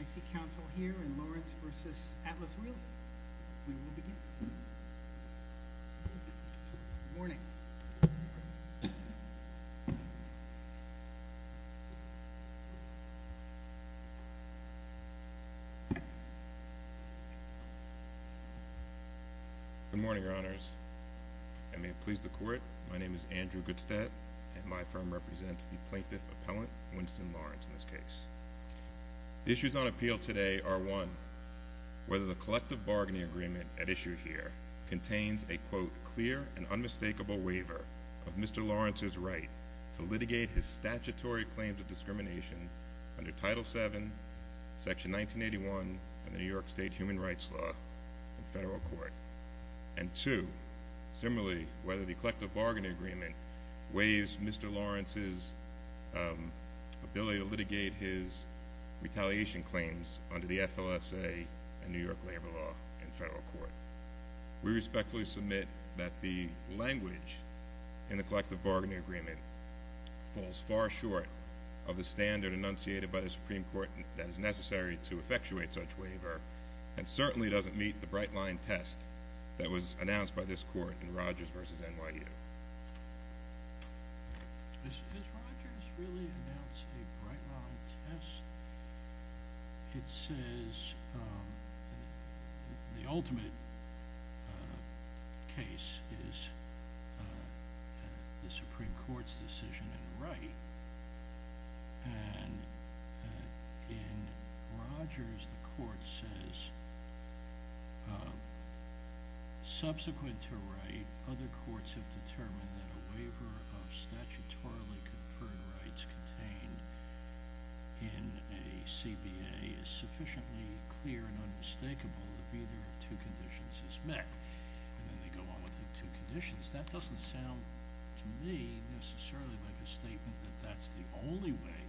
I see counsel here in Lawrence v. Atlas Realty. We will begin. Good morning. Good morning, your honors. I may please the court. My name is Andrew Goodstedt, and my firm represents the plaintiff appellant, Winston Lawrence, in this case. The issues on appeal today are, one, whether the collective bargaining agreement at issue here contains a, quote, clear and unmistakable waiver of Mr. Lawrence's right to litigate his statutory claims of discrimination under Title VII, Section 1981, and the New York State Human Rights Law in federal court. And two, similarly, whether the collective bargaining agreement waives Mr. Lawrence's ability to litigate his retaliation claims under the FLSA and New York labor law in federal court. We respectfully submit that the language in the collective bargaining agreement falls far short of the standard enunciated by the Supreme Court that is necessary to effectuate such waiver, and certainly doesn't meet the bright-line test that was announced by this court in Rogers v. NYU. Has Rogers really announced a bright-line test? that a waiver of statutorily conferred rights contained in a CBA is sufficiently clear and unmistakable that either of two conditions is met. And then they go on with the two conditions. That doesn't sound to me necessarily like a statement that that's the only way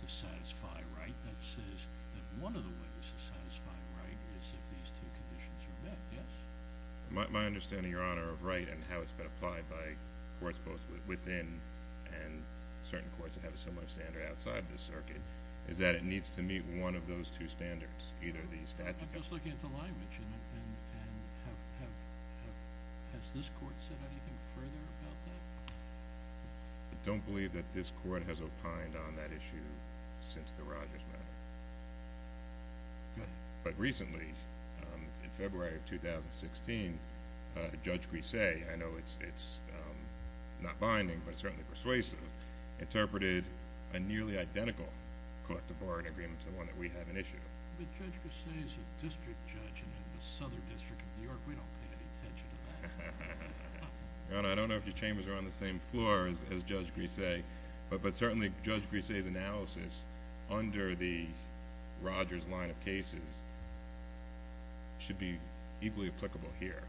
to satisfy a right. That says that one of the ways to satisfy a right is if these two conditions are met. Yes? My understanding, Your Honor, of right and how it's been applied by courts both within and certain courts that have a similar standard outside the circuit, is that it needs to meet one of those two standards, either the statute... I'm just looking at the language. And has this court said anything further about that? I don't believe that this court has opined on that issue since the Rogers matter. But recently, in February of 2016, Judge Grise, I know it's not binding, but certainly persuasive, interpreted a nearly identical court-to-board agreement to the one that we have in issue. But Judge Grise is a district judge in the Southern District of New York. We don't pay any attention to that. Your Honor, I don't know if your chambers are on the same floor as Judge Grise, but certainly Judge Grise's analysis under the Rogers line of cases should be equally applicable here.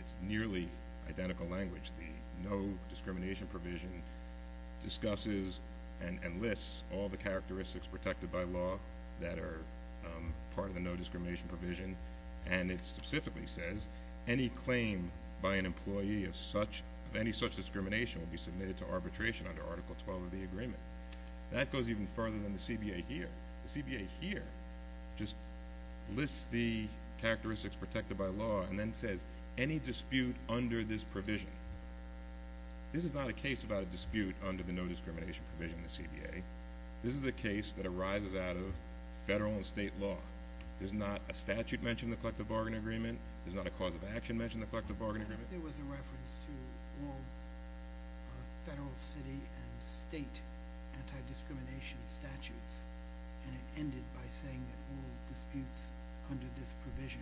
It's nearly identical language. The no discrimination provision discusses and lists all the characteristics protected by law that are part of the no discrimination provision. And it specifically says any claim by an employee of any such discrimination will be submitted to arbitration under Article 12 of the agreement. That goes even further than the CBA here. The CBA here just lists the characteristics protected by law and then says any dispute under this provision. This is not a case about a dispute under the no discrimination provision in the CBA. This is a case that arises out of federal and state law. There's not a statute mentioned in the Collective Bargain Agreement. There's not a cause of action mentioned in the Collective Bargain Agreement. There was a reference to all federal, city, and state anti-discrimination statutes, and it ended by saying that all disputes under this provision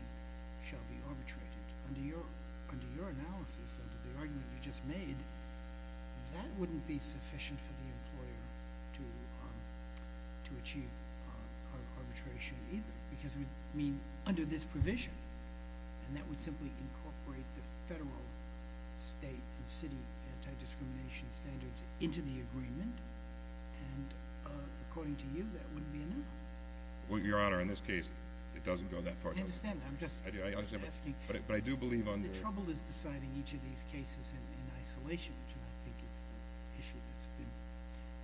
shall be arbitrated. But under your analysis, under the argument you just made, that wouldn't be sufficient for the employer to achieve arbitration either. Because, I mean, under this provision, and that would simply incorporate the federal, state, and city anti-discrimination standards into the agreement, and according to you, that wouldn't be enough. Well, Your Honor, in this case, it doesn't go that far. I understand that. I'm just asking. But I do believe under The trouble is deciding each of these cases in isolation, which I think is the issue that's been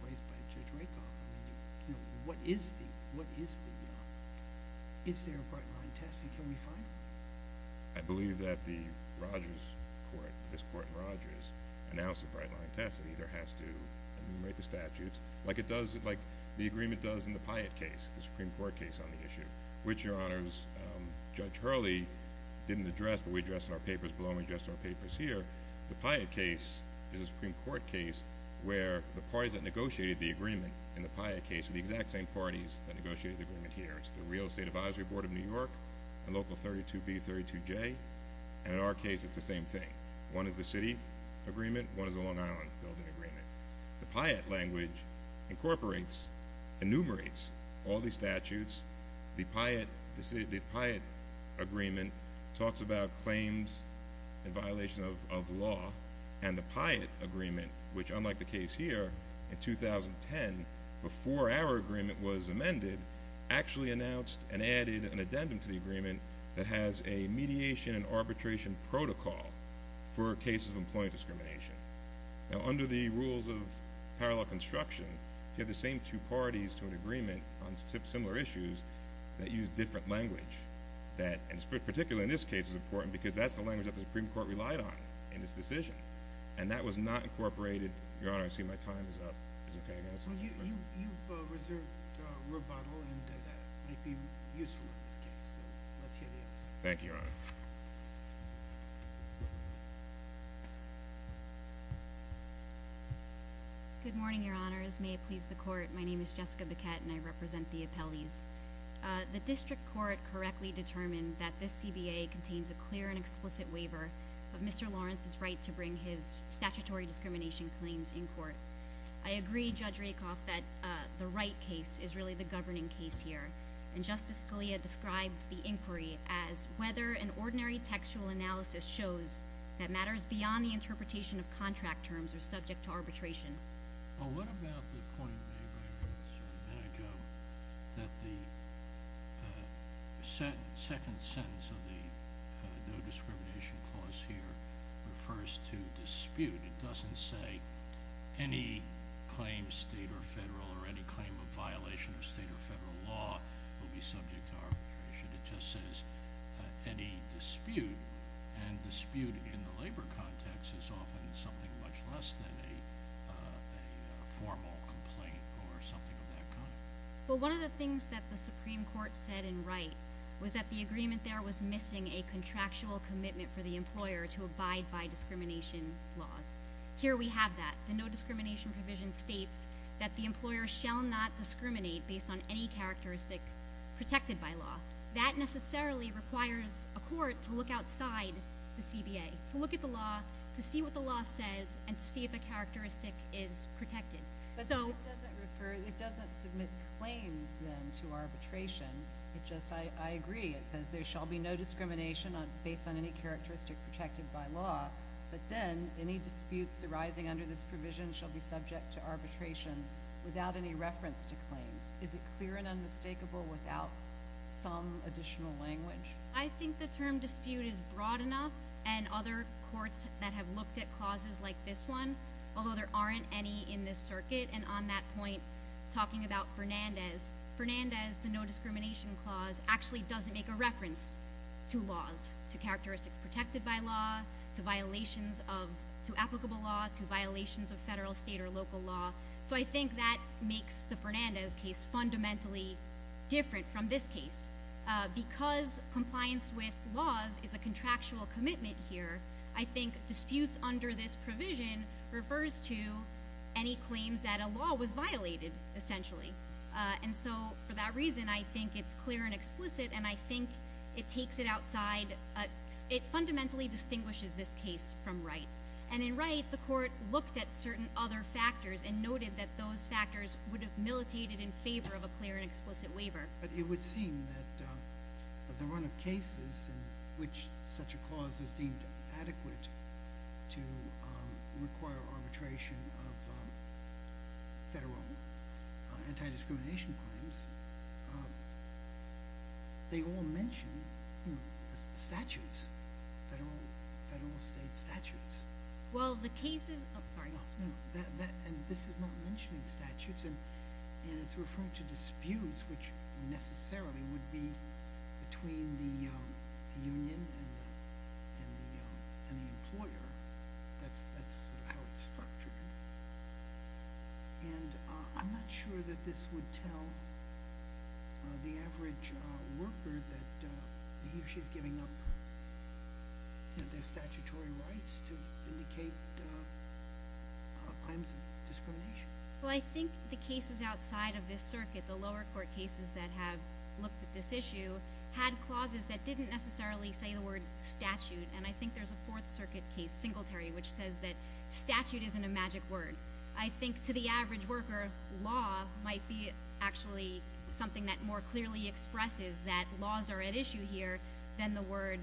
raised by Judge Rakoff. I mean, you know, what is the, what is the, you know, is there a bright line test, and can we find it? I believe that the Rogers Court, this Court in Rogers, announced a bright line test. It either has to enumerate the statutes, like it does, like the agreement does in the Pyatt case, the Supreme Court case on the issue, which, Your Honors, Judge Hurley didn't address, but we addressed in our papers below, and we addressed in our papers here. The Pyatt case is a Supreme Court case where the parties that negotiated the agreement in the Pyatt case are the exact same parties that negotiated the agreement here. It's the Real Estate Advisory Board of New York and Local 32B, 32J. And in our case, it's the same thing. One is the city agreement, one is the Long Island building agreement. The Pyatt language incorporates, enumerates all these statutes. The Pyatt agreement talks about claims in violation of law, and the Pyatt agreement, which unlike the case here, in 2010, before our agreement was amended, actually announced and added an addendum to the agreement that has a mediation and arbitration protocol for cases of employee discrimination. Now, under the rules of parallel construction, you have the same two parties to an agreement on similar issues that use different language that, and particularly in this case, is important because that's the language that the Supreme Court relied on in this decision, and that was not incorporated. Your Honor, I see my time is up. Is it okay if I ask another question? Well, you've reserved rubato, and that might be useful in this case, so let's hear the answer. Thank you, Your Honor. Good morning, Your Honors. May it please the Court. My name is Jessica Biquette, and I represent the appellees. The district court correctly determined that this CBA contains a clear and explicit waiver of Mr. Lawrence's right to bring his statutory discrimination claims in court. I agree, Judge Rakoff, that the right case is really the governing case here, and Justice Scalia described the inquiry as whether an ordinary textual analysis shows that matters beyond the interpretation of contract terms are subject to arbitration. Well, what about the point made by a witness a minute ago that the second sentence of the no-discrimination clause here refers to dispute? It doesn't say any claim state or federal or any claim of violation of state or federal law will be subject to arbitration. It just says any dispute, and dispute in the labor context is often something much less than a formal complaint or something of that kind. Well, one of the things that the Supreme Court said in Wright was that the agreement there was missing a contractual commitment for the employer to abide by discrimination laws. Here we have that. The no-discrimination provision states that the employer shall not discriminate based on any characteristic protected by law. That necessarily requires a court to look outside the CBA, to look at the law, to see what the law says, and to see if a characteristic is protected. But it doesn't submit claims, then, to arbitration. I agree. It says there shall be no discrimination based on any characteristic protected by law, but then any disputes arising under this provision shall be subject to arbitration without any reference to claims. Is it clear and unmistakable without some additional language? I think the term dispute is broad enough, and other courts that have looked at clauses like this one, although there aren't any in this circuit, and on that point, talking about Fernandez, Fernandez, the no-discrimination clause, actually doesn't make a reference to laws, to characteristics protected by law, to violations of applicable law, to violations of federal, state, or local law. So I think that makes the Fernandez case fundamentally different from this case. Because compliance with laws is a contractual commitment here, I think disputes under this provision refers to any claims that a law was violated, essentially. And so, for that reason, I think it's clear and explicit, and I think it takes it outside, it fundamentally distinguishes this case from Wright. And in Wright, the court looked at certain other factors and noted that those factors would have militated in favor of a clear and explicit waiver. But it would seem that the run of cases in which such a clause is deemed adequate to require arbitration of federal anti-discrimination claims, they all mention statutes, federal, state statutes. Well, the case is – oh, sorry. And this is not mentioning statutes, and it's referring to disputes, which necessarily would be between the union and the employer. That's how it's structured. And I'm not sure that this would tell the average worker that he or she is giving up their statutory rights to indicate claims of discrimination. Well, I think the cases outside of this circuit, the lower court cases that have looked at this issue, had clauses that didn't necessarily say the word statute. And I think there's a Fourth Circuit case, Singletary, which says that statute isn't a magic word. I think to the average worker, law might be actually something that more clearly expresses that laws are at issue here than the word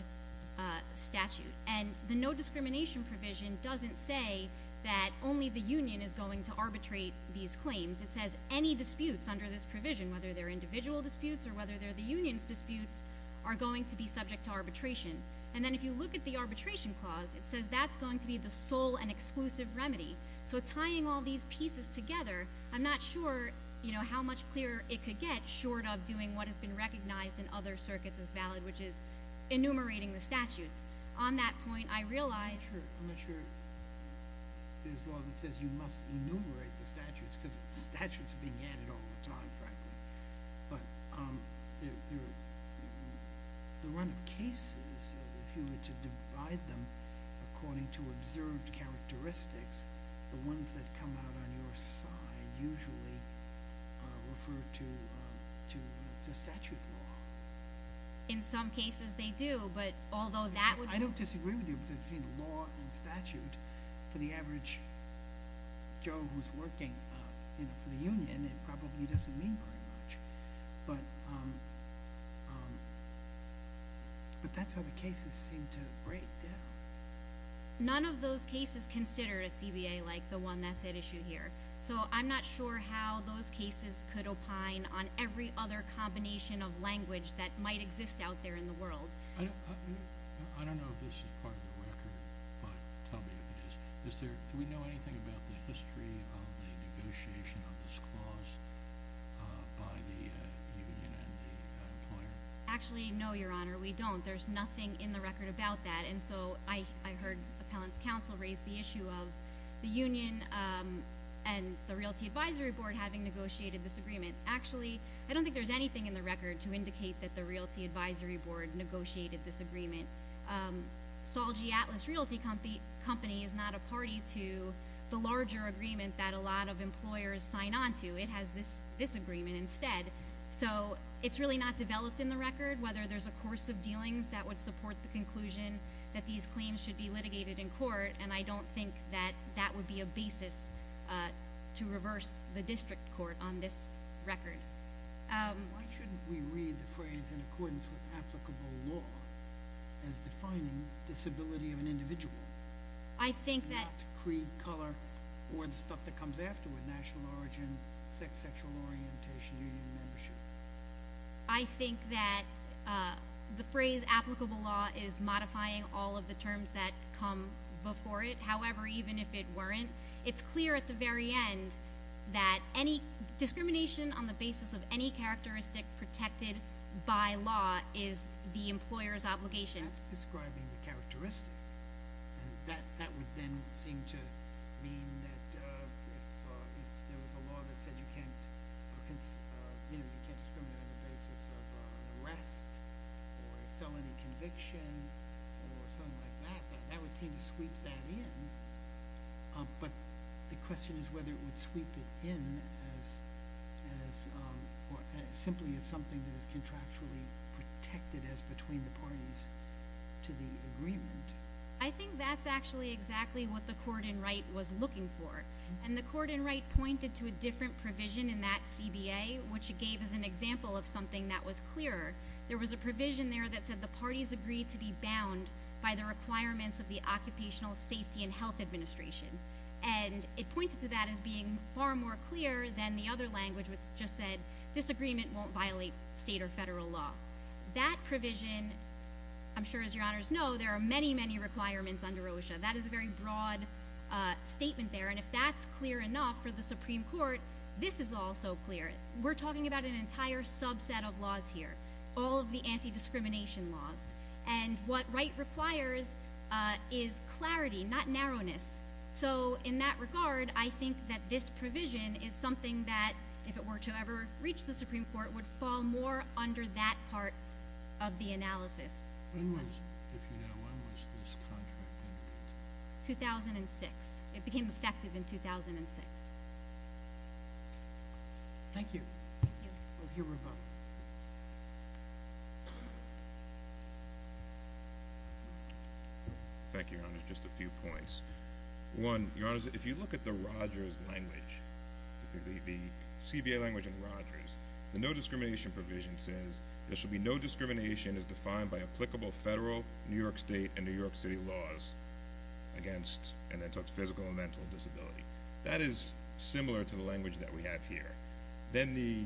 statute. And the no discrimination provision doesn't say that only the union is going to arbitrate these claims. It says any disputes under this provision, whether they're individual disputes or whether they're the union's disputes, are going to be subject to arbitration. And then if you look at the arbitration clause, it says that's going to be the sole and exclusive remedy. So tying all these pieces together, I'm not sure how much clearer it could get short of doing what has been recognized in other circuits as valid, which is enumerating the statutes. On that point, I realize... I'm not sure there's law that says you must enumerate the statutes because statutes are being added all the time, frankly. But the run of cases, if you were to divide them according to observed characteristics, the ones that come out on your side usually refer to statute law. In some cases they do, but although that would... I don't disagree with you, but between law and statute, for the average Joe who's working for the union, it probably doesn't mean very much. But that's how the cases seem to break down. None of those cases consider a CBA like the one that's at issue here. So I'm not sure how those cases could opine on every other combination of language that might exist out there in the world. I don't know if this is part of the record, but tell me if it is. Do we know anything about the history of the negotiation of this clause by the union and the employer? Actually, no, Your Honor, we don't. There's nothing in the record about that. And so I heard Appellant's counsel raise the issue of the union and the Realty Advisory Board having negotiated this agreement. Actually, I don't think there's anything in the record to indicate that the Realty Advisory Board negotiated this agreement. Solgi Atlas Realty Company is not a party to the larger agreement that a lot of employers sign on to. It has this agreement instead. So it's really not developed in the record, whether there's a course of dealings that would support the conclusion that these claims should be litigated in court, and I don't think that that would be a basis to reverse the district court on this record. Why shouldn't we read the phrase in accordance with applicable law as defining disability of an individual, not creed, color, or the stuff that comes after with national origin, sex, sexual orientation, union membership? I think that the phrase applicable law is modifying all of the terms that come before it. However, even if it weren't, it's clear at the very end that discrimination on the basis of any characteristic protected by law is the employer's obligation. That's describing the characteristic, and that would then seem to mean that if there was a law that said you can't discriminate on the basis of an arrest or a felony conviction or something like that, that would seem to sweep that in. But the question is whether it would sweep it in simply as something that is contractually protected as between the parties to the agreement. I think that's actually exactly what the court in Wright was looking for, and the court in Wright pointed to a different provision in that CBA which it gave as an example of something that was clearer. There was a provision there that said the parties agreed to be bound by the requirements of the Occupational Safety and Health Administration, and it pointed to that as being far more clear than the other language which just said this agreement won't violate state or federal law. That provision, I'm sure as your honors know, there are many, many requirements under OSHA. That is a very broad statement there, and if that's clear enough for the Supreme Court, this is also clear. We're talking about an entire subset of laws here, all of the anti-discrimination laws, and what Wright requires is clarity, not narrowness. So in that regard, I think that this provision is something that, if it were to ever reach the Supreme Court, would fall more under that part of the analysis. When was, if you know, when was this contract? 2006. It became effective in 2006. Thank you. Thank you. We'll hear from both. Thank you, your honors. Just a few points. One, your honors, if you look at the Rogers language, the CBA language in Rogers, the no discrimination provision says there should be no discrimination as defined by applicable federal, New York State, and New York City laws against, and then it talks physical and mental disability. That is similar to the language that we have here. Then the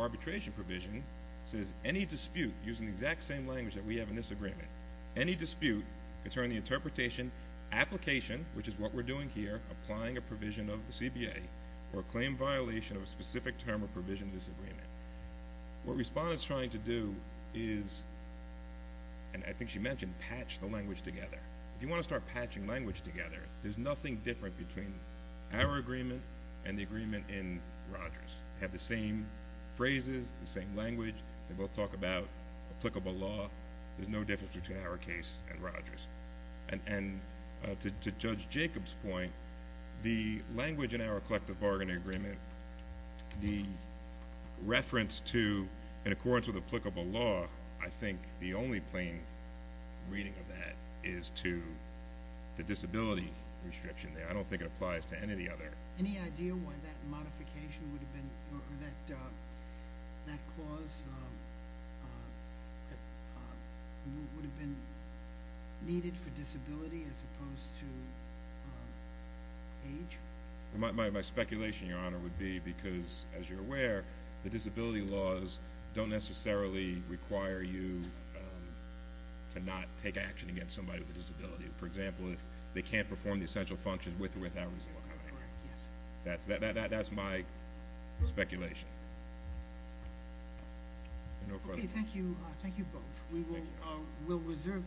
arbitration provision says any dispute using the exact same language that we have in this agreement, any dispute concerning the interpretation, application, which is what we're doing here, applying a provision of the CBA, or a claim violation of a specific term or provision of this agreement. What Respondent's trying to do is, and I think she mentioned, patch the language together. If you want to start patching language together, there's nothing different between our agreement and the agreement in Rogers. They have the same phrases, the same language. They both talk about applicable law. There's no difference between our case and Rogers. And to Judge Jacobs' point, the language in our collective bargaining agreement, the reference to in accordance with applicable law, I think the only plain reading of that is to the disability restriction there. I don't think it applies to any of the other. Any idea why that modification would have been, or that clause would have been needed for disability as opposed to age? My speculation, Your Honor, would be because, as you're aware, the disability laws don't necessarily require you to not take action against somebody with a disability. For example, if they can't perform the essential functions with or without a disability. That's my speculation. Okay, thank you. Thank you both. We will reserve decisions.